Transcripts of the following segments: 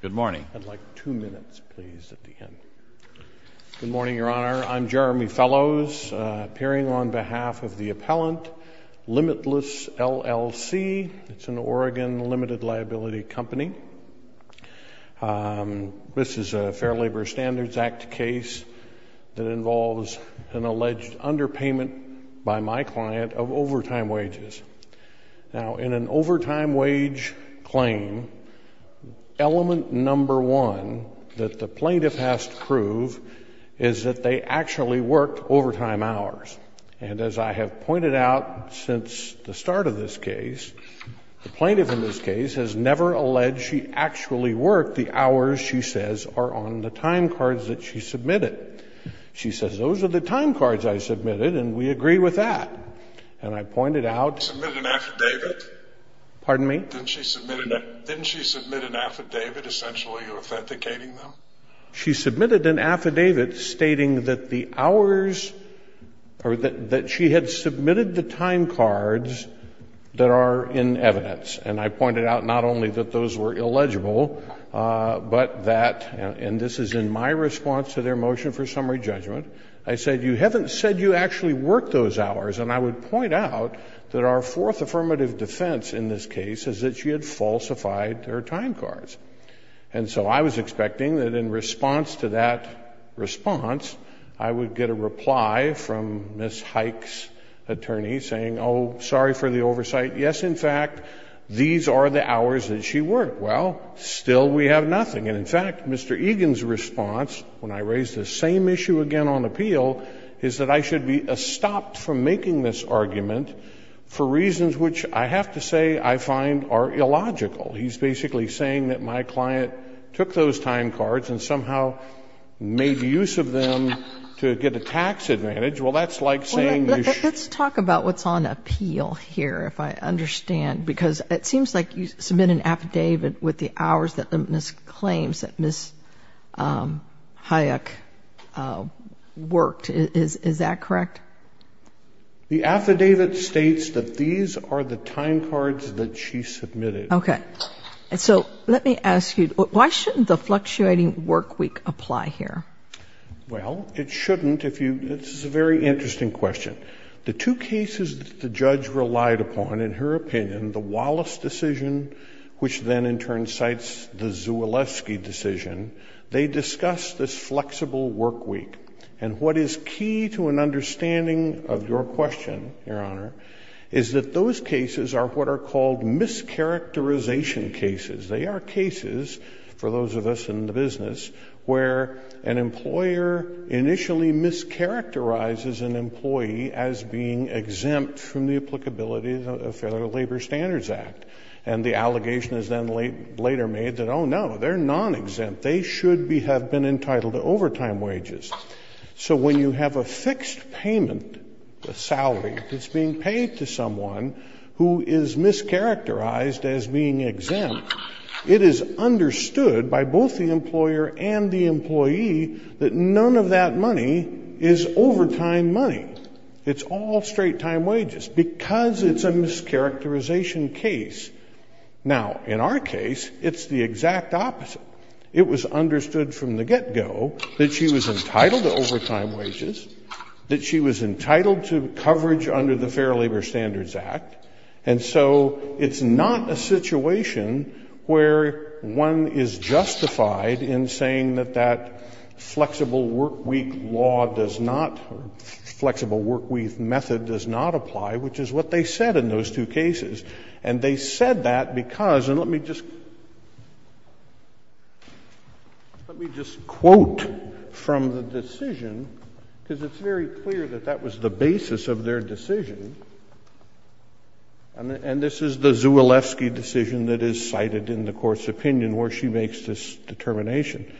Good morning. I'd like two minutes, please, at the end. Good morning, Your Honor. I'm Jeremy Fellows, appearing on behalf of the appellant, Limitless, LLC. It's an Oregon limited liability company. This is a Fair Labor Standards Act case that involves an alleged underpayment by my client of overtime wages. Now in an overtime wage claim, element number one that the plaintiff has to prove is that they actually worked overtime hours. And as I have pointed out since the start of this case, the plaintiff in this case has never alleged she actually worked the hours she says are on the time cards that she submitted. She says those are the time cards I submitted and we agree with that. And I pointed out she submitted an affidavit stating that the hours that she had submitted the time cards that are in evidence. And I pointed out not only that those were illegible, but that, and this is in my response to their motion for summary judgment, I said you haven't said you actually worked those hours. And I would point out that our fourth affirmative defense in this case is that she had falsified her time cards. And so I was expecting that in response to that response, I would get a reply from Ms. Hike's attorney saying, oh, sorry for the oversight. Yes, in fact, these are the hours that she worked. Well, still we have nothing. And in fact, Mr. Egan's argument, the same issue again on appeal, is that I should be stopped from making this argument for reasons which, I have to say, I find are illogical. He's basically saying that my client took those time cards and somehow made use of them to get a tax advantage. Well, that's like saying you should be stopped. Kagan. Well, let's talk about what's on appeal here, if I understand, because it seems like you submit an affidavit with the hours that Ms. Hike claims that Ms. Hike worked. Is that correct? The affidavit states that these are the time cards that she submitted. Okay. So let me ask you, why shouldn't the fluctuating work week apply here? Well, it shouldn't if you, this is a very interesting question. The two cases that the judge relied upon, in her opinion, the Wallace decision, which then in turn cites the flexible work week. And what is key to an understanding of your question, your honor, is that those cases are what are called mischaracterization cases. They are cases, for those of us in the business, where an employer initially mischaracterizes an employee as being exempt from the applicability of the Federal Labor Standards Act. And the allegation is then later made that, oh no, they're non-exempt. They should have been entitled to overtime wages. So when you have a fixed payment, a salary that's being paid to someone who is mischaracterized as being exempt, it is understood by both the employer and the employee that none of that money is overtime money. It's all straight time wages because it's a mischaracterization case. Now, in our case, it's the exact opposite. It was understood from the get-go that she was entitled to overtime wages, that she was entitled to coverage under the Fair Labor Standards Act. And so it's not a situation where one is justified in saying that that flexible work week law does not, or flexible work week method does not apply, which is what they said in those two cases. And they said that because, and let me just quote from the decision, because it's very clear that that was the basis of their decision, and this is the Zewalewski decision that is cited in the Court's opinion where she makes this determination.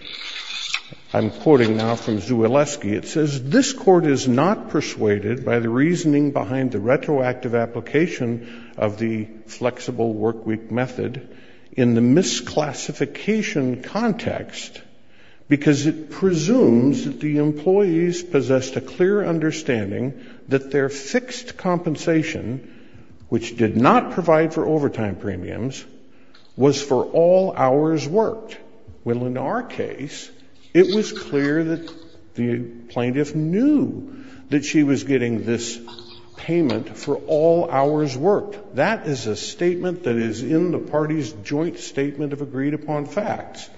I'm quoting now from Zewalewski. It says, This Court is not persuaded by the reasoning behind the retroactive application of the flexible work week method in the misclassification context because it presumes that the employees possessed a clear understanding that their fixed compensation, which did not provide for overtime premiums, was for all hours worked. Well, in our case, it was clear that the plaintiff knew that she was getting this payment for all hours worked. That is a statement that is in the party's joint statement of agreed upon facts.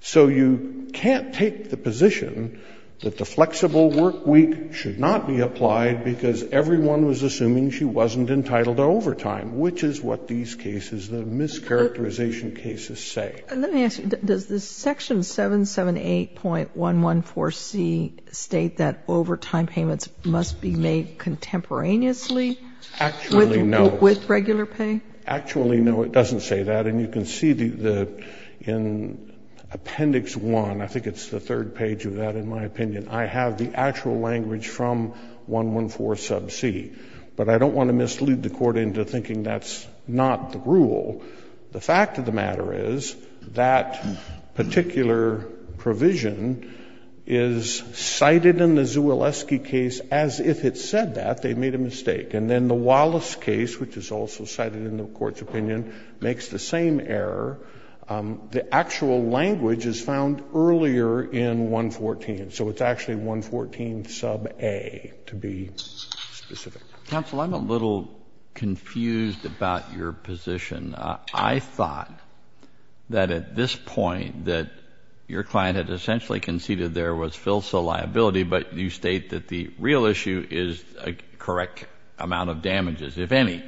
So you can't take the position that the flexible work week should not be applied because everyone was assuming she wasn't entitled to overtime, which is what these cases, the mischaracterization cases, say. Sotomayor, does this section 778.114C state that overtime payments must be made contemporaneously with regular pay? Actually, no. Actually, no, it doesn't say that. And you can see the — in Appendix 1, I think it's the third page of that, in my opinion, I have the actual language from 114 sub c. But I don't want to mislead the Court into thinking that's not the rule. The fact of the matter is that particular provision is cited in the Zewalewski case as if it said that, they made a mistake. And then the Wallace case, which is also cited in the Court's opinion, makes the same error. The actual language is found earlier in 114. So it's actually 114 sub a to be specific. Counsel, I'm a little confused about your position. I thought that at this point that your client had essentially conceded there was filsa liability, but you state that the real issue is a correct amount of damages, if any.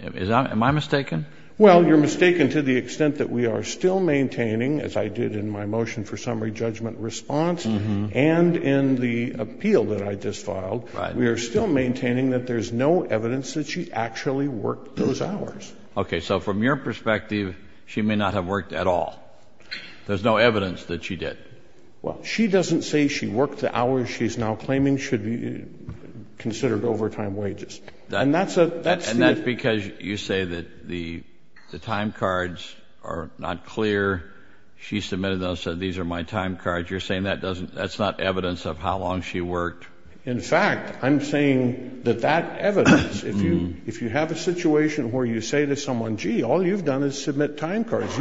Am I mistaken? Well, you're mistaken to the extent that we are still maintaining, as I did in my motion for summary judgment response and in the appeal that I just filed, we are still maintaining that there's no evidence that she actually worked those hours. Okay. So from your perspective, she may not have worked at all. There's no evidence that she did. Well, she doesn't say she worked the hours she's now claiming should be considered overtime wages. And that's a that's the And that's because you say that the time cards are not clear. She submitted those and said these are my time cards. You're saying that doesn't, that's not evidence of how long she worked. In fact, I'm saying that that evidence, if you have a situation where you say to someone, gee, all you've done is submit time cards,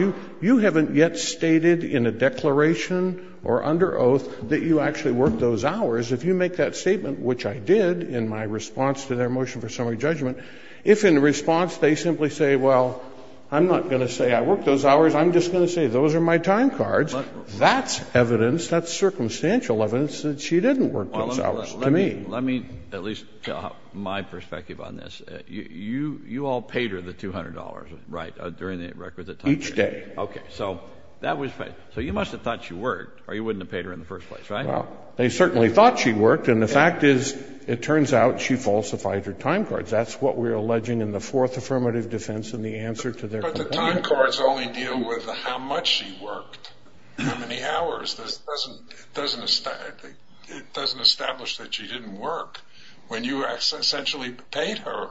you haven't yet stated in a declaration or under oath that you actually worked those hours, if you make that statement, which I did in my response to their motion for summary judgment, if in response they simply say, well, I'm not going to say I worked those hours, I'm just going to say those are my time cards, that's evidence, that's circumstantial evidence that she didn't work those hours to me. Well, let me at least tell my perspective on this. You all paid her the $200, right, during the record that time period? Each day. Okay, so that was, so you must have thought she worked, or you wouldn't have paid her in the first place, right? Well, they certainly thought she worked, and the fact is, it turns out she falsified her time cards. That's what we're alleging in the fourth affirmative defense in the answer to their complaint. But the time cards only deal with how much she worked, how many hours. It doesn't establish that she didn't work. When you essentially paid her,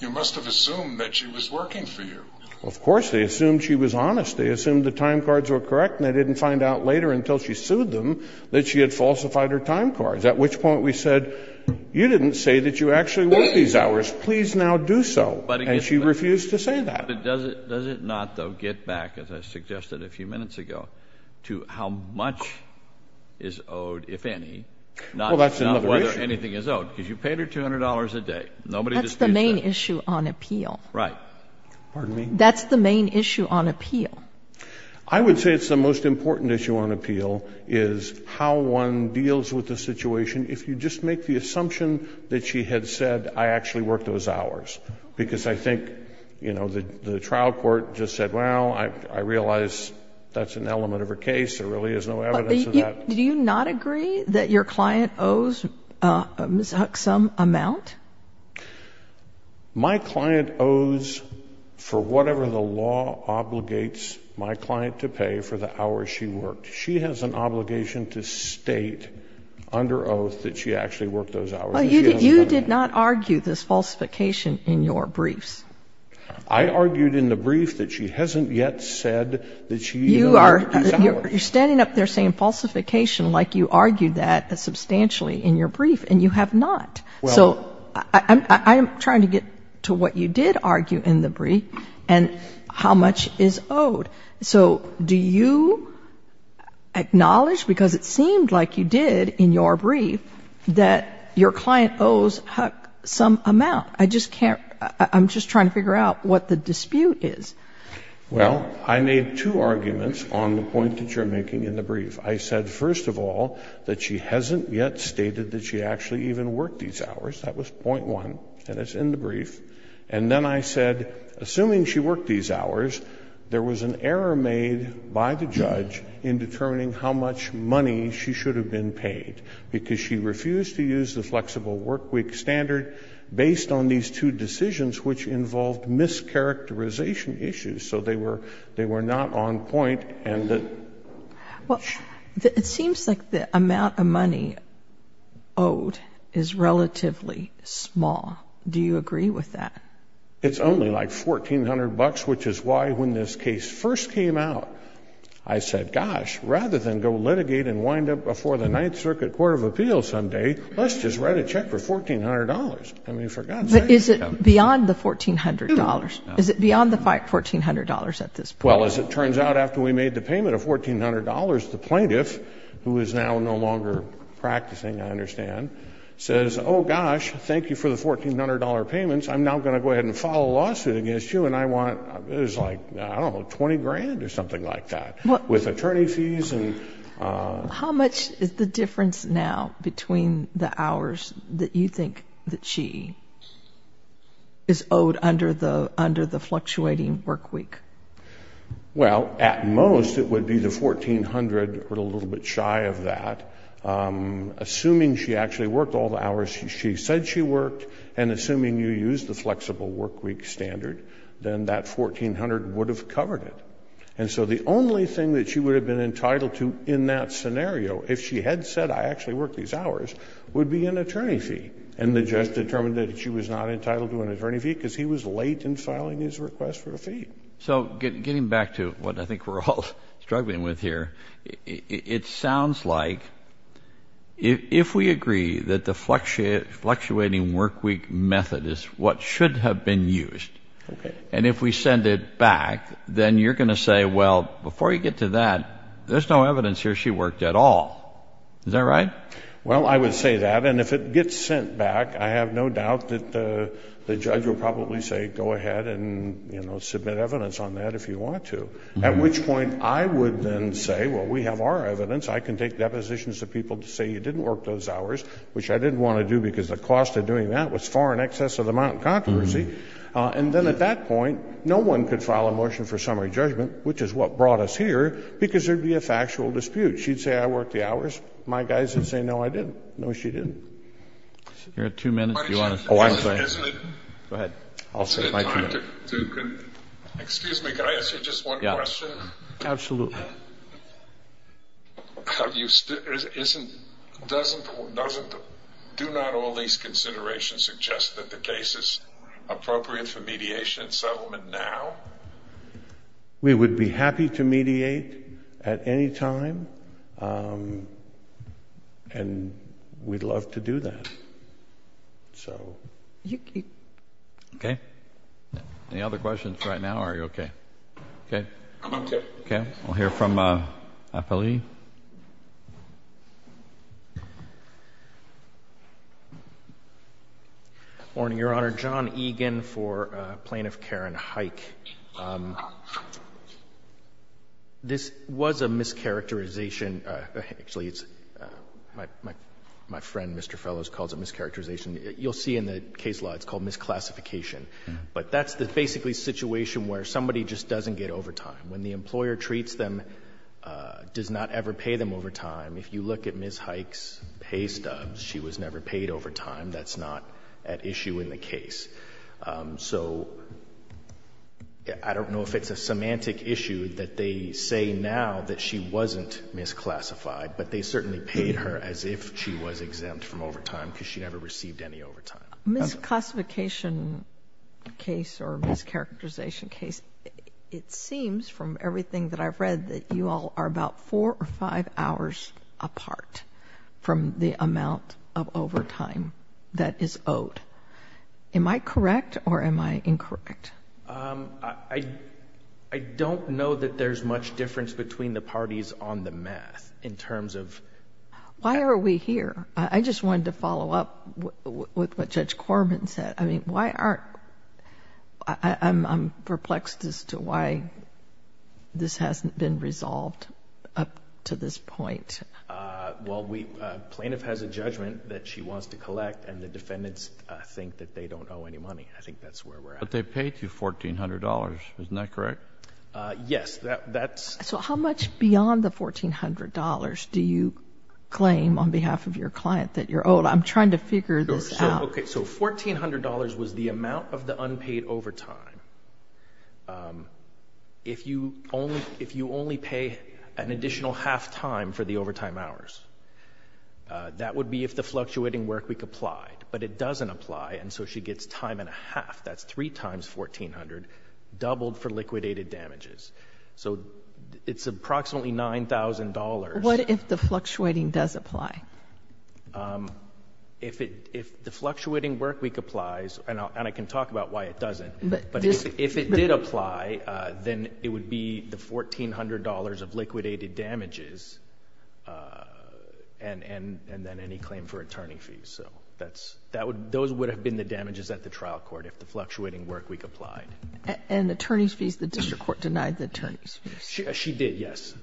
you must have assumed that she was working for you. Well, of course, they assumed she was honest. They assumed the time cards were correct, and they didn't find out later until she sued them that she had falsified her time cards, at which point we said, you didn't say that you actually worked these hours. Please now do so. And she refused to say that. But does it not, though, get back, as I suggested a few minutes ago, to how much is owed, if any, not whether anything is owed, because you paid her $200 a day. Nobody distinguished That's the main issue on appeal. Right. Pardon me? That's the main issue on appeal. I would say it's the most important issue on appeal is how one deals with the situation if you just make the assumption that she had said, I actually worked those hours. Because I think, you know, the trial court just said, well, I realize that's an element of her case. There really is no evidence of that. Do you not agree that your client owes Ms. Huck some amount? My client owes for whatever the law obligates my client to pay for the hours she worked. She has an obligation to state under oath that she actually worked those hours. But you did not argue this falsification in your briefs. I argued in the brief that she hasn't yet said that she even worked those hours. You are standing up there saying falsification like you argued that substantially in your brief, and you have not. So I'm trying to get to what you did argue in the brief and how much is owed. So do you acknowledge, because it seemed like you did in your brief, that your client owes Huck some amount? I just can't. I'm just trying to figure out what the dispute is. Well, I made two arguments on the point that you're making in the brief. I said, first of all, that she hasn't yet stated that she actually even worked these hours. That was point one, and it's in the brief. And then I said, assuming she worked these hours, there was an error made by the judge in determining how much money she should have been paid, because she refused to use the flexible workweek standard based on these two decisions, which involved mischaracterization issues. So they were not on point. Well, it seems like the amount of money owed is relatively small. Do you agree with that? It's only like $1,400, which is why when this case first came out, I said, gosh, rather than go litigate and wind up before the Ninth Circuit Court of Appeals someday, let's just write a check for $1,400. I mean, for God's sake. But is it beyond the $1,400? Is it beyond the $1,400 at this point? Well, as it turns out, after we made the payment of $1,400, the plaintiff, who is now no longer practicing, I understand, says, oh, gosh, thank you for the $1,400 payments. I'm now going to go ahead and file a lawsuit against you, and I want, it was like, I don't know, $20,000 or something like that, with attorney fees. How much is the difference now between the hours that you think that she is owed under the fluctuating work week? Well, at most, it would be the $1,400. We're a little bit shy of that. Assuming she actually worked all the hours she said she worked, and assuming you used the flexible work week standard, then that $1,400 would have covered it. And so the only thing that she would have been entitled to in that scenario, if she had said, I actually work these hours, would be an attorney fee. And the judge determined that she was not entitled to an attorney fee because he was late in filing his request for a fee. So getting back to what I think we're all struggling with here, it sounds like, if we agree that the fluctuating work week method is what should have been used, and if we send it back, then you're going to say, well, before you get to that, there's no evidence here she worked at all. Is that right? Well, I would say that. And if it gets sent back, I have no doubt that the judge will probably say, go ahead and submit evidence on that if you want to. At which point, I would then say, well, we have our evidence. I can take depositions of people to say you didn't work those hours, which I didn't want to do because the cost of doing that was far in excess of the amount in controversy. And then at that point, no one could file a motion for summary judgment, which is what brought us here, because there would be a factual dispute. She'd say I worked the hours. My guys would say, no, I didn't. No, she didn't. You have two minutes, if you want to say. Go ahead. I'll say it in my two minutes. Excuse me, could I ask you just one question? Absolutely. Do not all these considerations suggest that the case is appropriate for mediation and settlement now? We would be happy to mediate at any time, and we'd love to do that. So... Okay. Any other questions right now, or are you okay? Okay. I'm okay. Okay. We'll hear from Apolli. Morning, Your Honor. Thank you, Your Honor. John Egan for Plaintiff Karen Hike. This was a mischaracterization. Actually, my friend, Mr. Fellows, calls it mischaracterization. You'll see in the case law it's called misclassification. But that's the basically situation where somebody just doesn't get overtime. When the employer treats them, does not ever pay them overtime, if you look at Ms. Hike's pay stubs, she was never paid overtime. That's not at issue in the case. So I don't know if it's a semantic issue that they say now that she wasn't misclassified, but they certainly paid her as if she was exempt from overtime because she never received any overtime. Misclassification case or mischaracterization case, it seems from everything that I've read that you all are about four or five hours apart from the amount of overtime that is owed. Am I correct or am I incorrect? I don't know that there's much difference between the parties on the math in terms of... Why are we here? I just wanted to follow up with what Judge Corbin said. I mean, why aren't... I'm perplexed as to why this hasn't been resolved up to this point. Well, plaintiff has a judgment that she wants to collect and the defendants think that they don't owe any money. I think that's where we're at. But they paid you $1,400, isn't that correct? Yes, that's... So how much beyond the $1,400 do you claim on behalf of your client that you're owed? I'm trying to figure this out. Okay. So $1,400 was the amount of the unpaid overtime. If you only pay an additional half-time for the overtime hours, that would be if the fluctuating workweek applied. But it doesn't apply and so she gets time and a half. That's three times $1,400 doubled for liquidated damages. So it's approximately $9,000. What if the fluctuating does apply? If the fluctuating workweek applies, and I can talk about why it doesn't... But if it did apply, then it would be the $1,400 of liquidated damages and then any claim for attorney fees. So those would have been the damages at the trial court if the fluctuating workweek applied. And attorney's fees, the district court denied the attorney's fees? She did, yes.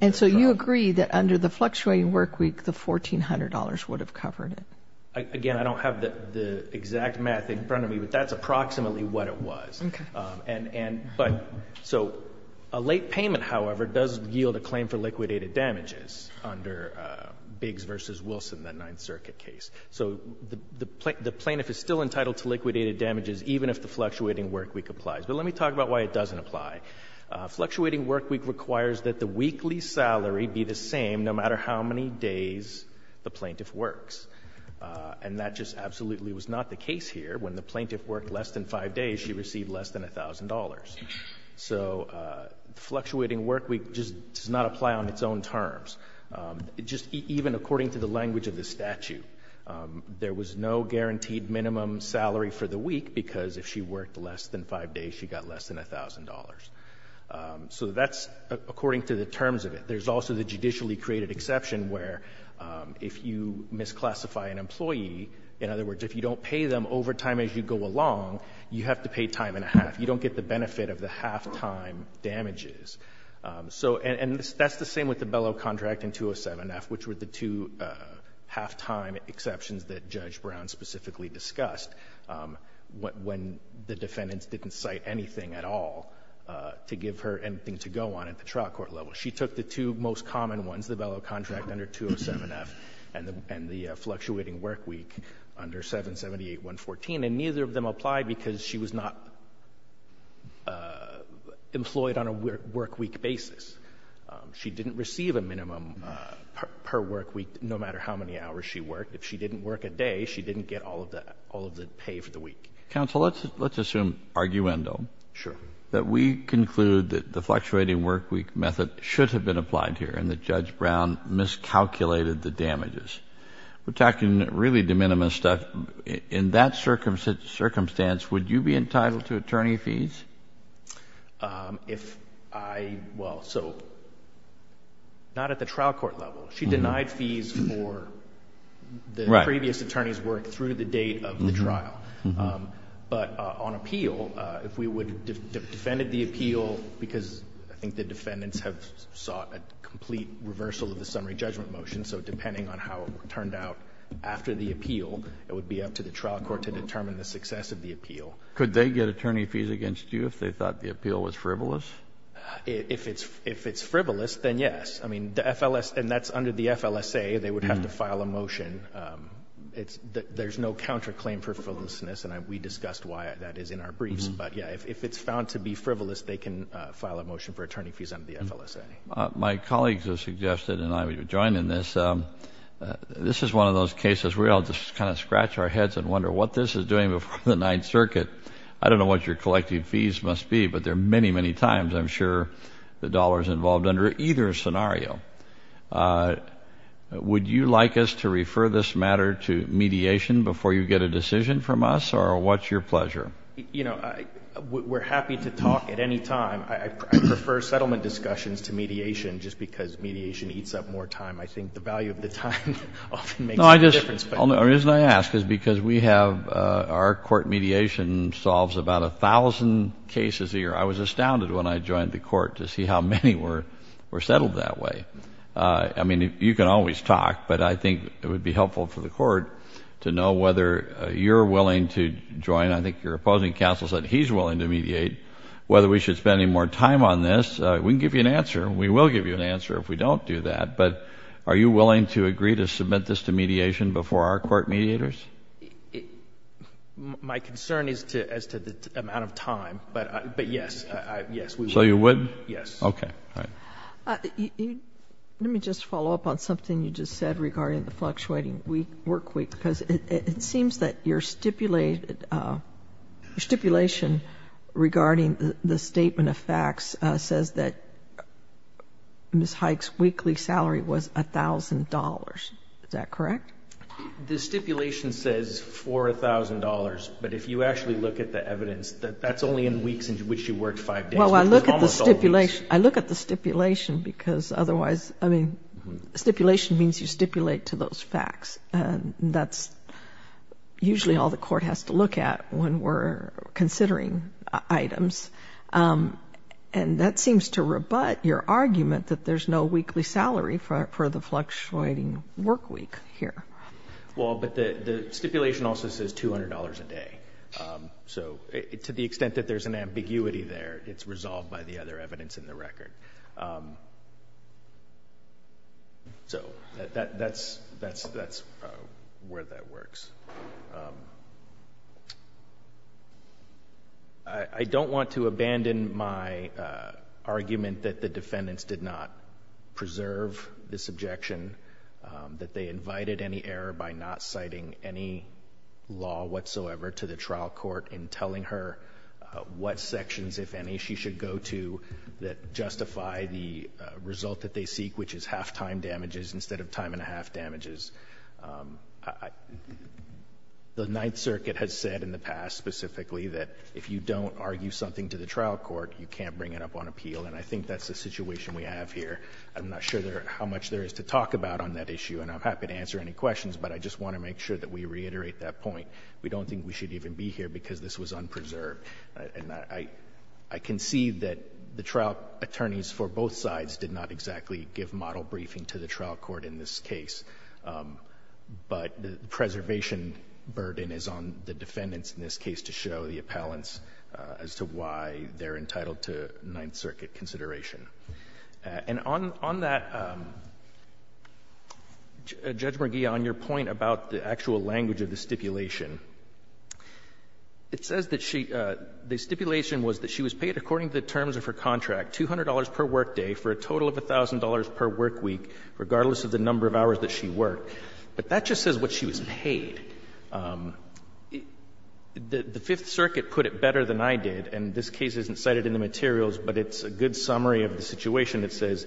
And so you agree that under the fluctuating workweek, the $1,400 would have covered it? Again, I don't have the exact math in front of me, but that's approximately what it was. So a late payment, however, does yield a claim for liquidated damages under Biggs v. Wilson, that Ninth Circuit case. So the plaintiff is still entitled to liquidated damages even if the fluctuating workweek applies. But let me talk about why it doesn't apply. Fluctuating workweek requires that the weekly salary be the same no matter how many days the plaintiff works. And that just absolutely was not the case here. When the plaintiff worked less than five days, she received less than $1,000. So fluctuating workweek just does not apply on its own terms. Just even according to the language of the statute, there was no guaranteed minimum salary for the week because if she worked less than five days, she got less than $1,000. So that's according to the terms of it. There's also the judicially created exception where if you misclassify an employee, in other words, if you don't pay them over time as you go along, you have to pay time and a half. You don't get the benefit of the half-time damages. So, and that's the same with the bellow contract in 207-F, which were the two half-time exceptions that Judge Brown specifically discussed when the defendants didn't cite anything at all to give her anything to go on at the trial court level. She took the two most common ones, the bellow contract under 207-F and the fluctuating workweek under 778-114, and neither of them apply because she was not employed on a workweek basis. She didn't receive a minimum per workweek no matter how many hours she worked. If she didn't work a day, she didn't get all of the pay for the week. Counsel, let's assume arguendo. Sure. That we conclude that the fluctuating workweek method should have been applied here and that Judge Brown miscalculated the damages. We're talking really de minimis stuff. In that circumstance, would you be entitled to attorney fees? If I, well, so, not at the trial court level. She denied fees for the previous attorney's work through the date of the trial. But on appeal, if we would have defended the appeal, because I think the defendants have sought a complete reversal of the summary judgment motion, so depending on how it turned out after the appeal, it would be up to the trial court to determine the success of the appeal. Could they get attorney fees against you if they thought the appeal was frivolous? If it's frivolous, then yes. I mean, the FLSA, and that's under the FLSA, they would have to file a motion. There's no counterclaim for frivolousness, and we discussed why that is in our briefs. But yeah, if it's found to be frivolous, they can file a motion for attorney fees under the FLSA. My colleagues have suggested, and I would join in this, this is one of those cases where we all just kind of scratch our heads and wonder what this is doing before the Ninth Circuit. I don't know what your collective fees must be, but there are many, many times I'm sure the dollar is involved under either scenario. Would you like us to refer this matter to mediation before you get a decision from us, or what's your pleasure? You know, we're happy to talk at any time. I prefer settlement discussions to mediation just because mediation eats up more time. I think the value of the time often makes a difference. No, I just, the reason I ask is because we have, our court mediation solves about a thousand cases a year. I was astounded when I joined the court to see how many were settled that way. I mean, you can always talk, but I think it would be helpful for the court to know whether you're willing to join, I think your opposing counsel said he's willing to mediate, whether we should spend any more time on this. We can give you an answer. We will give you an answer if we don't do that, but are you willing to agree to submit this to mediation before our court mediators? My concern is as to the amount of time, but yes, yes. So you would? Yes. Okay. All right. Let me just follow up on something you just said regarding the fluctuating work week, because it seems that your stipulation regarding the statement of facts says that Ms. Hike's weekly salary was $1,000. Is that correct? The stipulation says $4,000, but if you actually look at the evidence, that's only in weeks in which you worked five days. Well, I look at the stipulation because otherwise, I mean, stipulation means you stipulate to those facts, and that's usually all the court has to look at when we're considering items, and that seems to rebut your argument that there's no weekly salary for the fluctuating work week here. Well, but the stipulation also says $200 a day. So to the extent that there's an ambiguity there, it's resolved by the other evidence in the record. So that's where that works. I don't want to abandon my argument that the defendants did not preserve this objection, that they invited any error by not citing any law whatsoever to the trial court in telling her what sections, if any, she should go to that justify the result that they seek, which is half-time damages instead of time and a half damages. The Ninth Circuit has said in the past specifically that if you don't argue something to the trial court, you can't bring it up on appeal, and I think that's the situation we have here. I'm not sure how much there is to talk about on that issue, and I'm happy to answer any questions, but I just want to make sure that we reiterate that point. We don't think we should even be here because this was unpreserved. And I can see that the trial attorneys for both sides did not exactly give model briefing to the trial court in this case, but the preservation burden is on the defendants in this case to show the appellants as to why they're entitled to Ninth Circuit consideration. And on that, Judge McGee, on your point about the actual language of the stipulation was that she was paid according to the terms of her contract, $200 per workday for a total of $1,000 per workweek, regardless of the number of hours that she worked. But that just says what she was paid. The Fifth Circuit put it better than I did, and this case isn't cited in the materials, but it's a good summary of the situation that says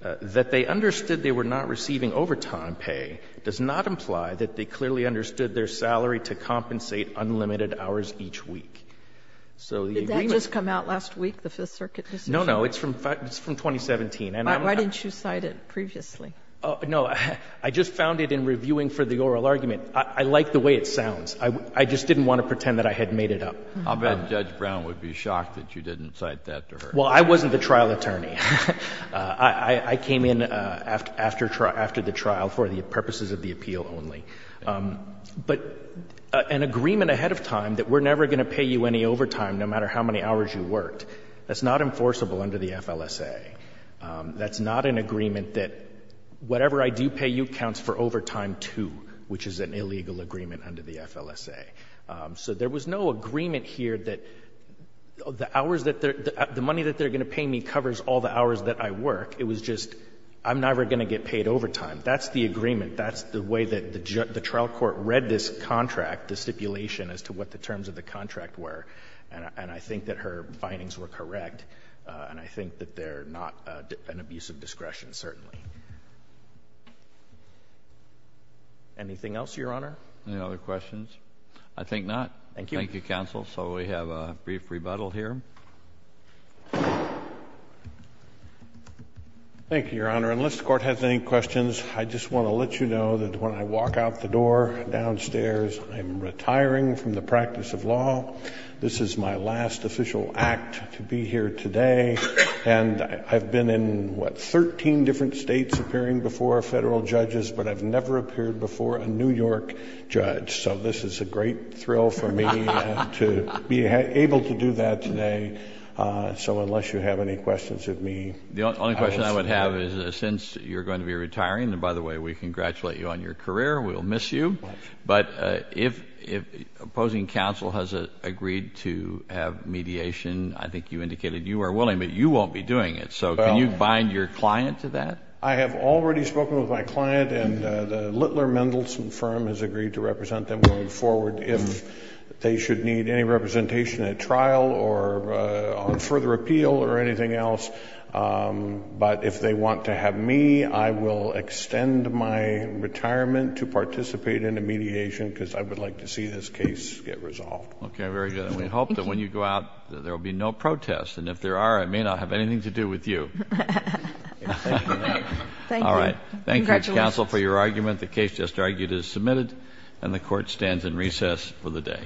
that they understood they were not receiving overtime pay does not imply that they clearly understood their salary to compensate unlimited hours each week. So the agreement ---- Did that just come out last week, the Fifth Circuit decision? No, no. It's from 2017. Why didn't you cite it previously? No. I just found it in reviewing for the oral argument. I like the way it sounds. I just didn't want to pretend that I had made it up. I'll bet Judge Brown would be shocked that you didn't cite that to her. Well, I wasn't the trial attorney. I came in after the trial for the purposes of the appeal only. But an agreement ahead of time that we're never going to pay you any overtime, no matter how many hours you worked, that's not enforceable under the FLSA. That's not an agreement that whatever I do pay you counts for overtime, too, which is an illegal agreement under the FLSA. So there was no agreement here that the hours that they're ---- the money that they're going to pay me covers all the hours that I work. It was just I'm never going to get paid overtime. That's the agreement. That's the way that the trial court read this contract, the stipulation, as to what the terms of the contract were. And I think that her findings were correct. And I think that they're not an abuse of discretion, certainly. Anything else, Your Honor? Any other questions? I think not. Thank you. Thank you, counsel. So we have a brief rebuttal here. Thank you, Your Honor. Unless the Court has any questions, I just want to let you know that when I walk out the door downstairs, I'm retiring from the practice of law. This is my last official act to be here today. And I've been in, what, 13 different states appearing before federal judges, but I've never appeared before a New York judge. So this is a great thrill for me to be able to do that today. So unless you have any questions of me ---- The only question I would have is, since you're going to be retiring, and by the way, we congratulate you on your career. We'll miss you. But if opposing counsel has agreed to have mediation, I think you indicated you are willing, but you won't be doing it. So can you bind your client to that? I have already spoken with my client, and the Littler Mendelson firm has agreed to represent them going forward if they should need any representation at trial or on further appeal or anything else. But if they want to have me, I will extend my retirement to participate in a mediation because I would like to see this case get resolved. Okay, very good. And we hope that when you go out, there will be no protests. And if there are, I may not have anything to do with you. Thank you. Congratulations. Thank you, counsel, for your argument. The case just argued is submitted, and the Court stands in recess for the day.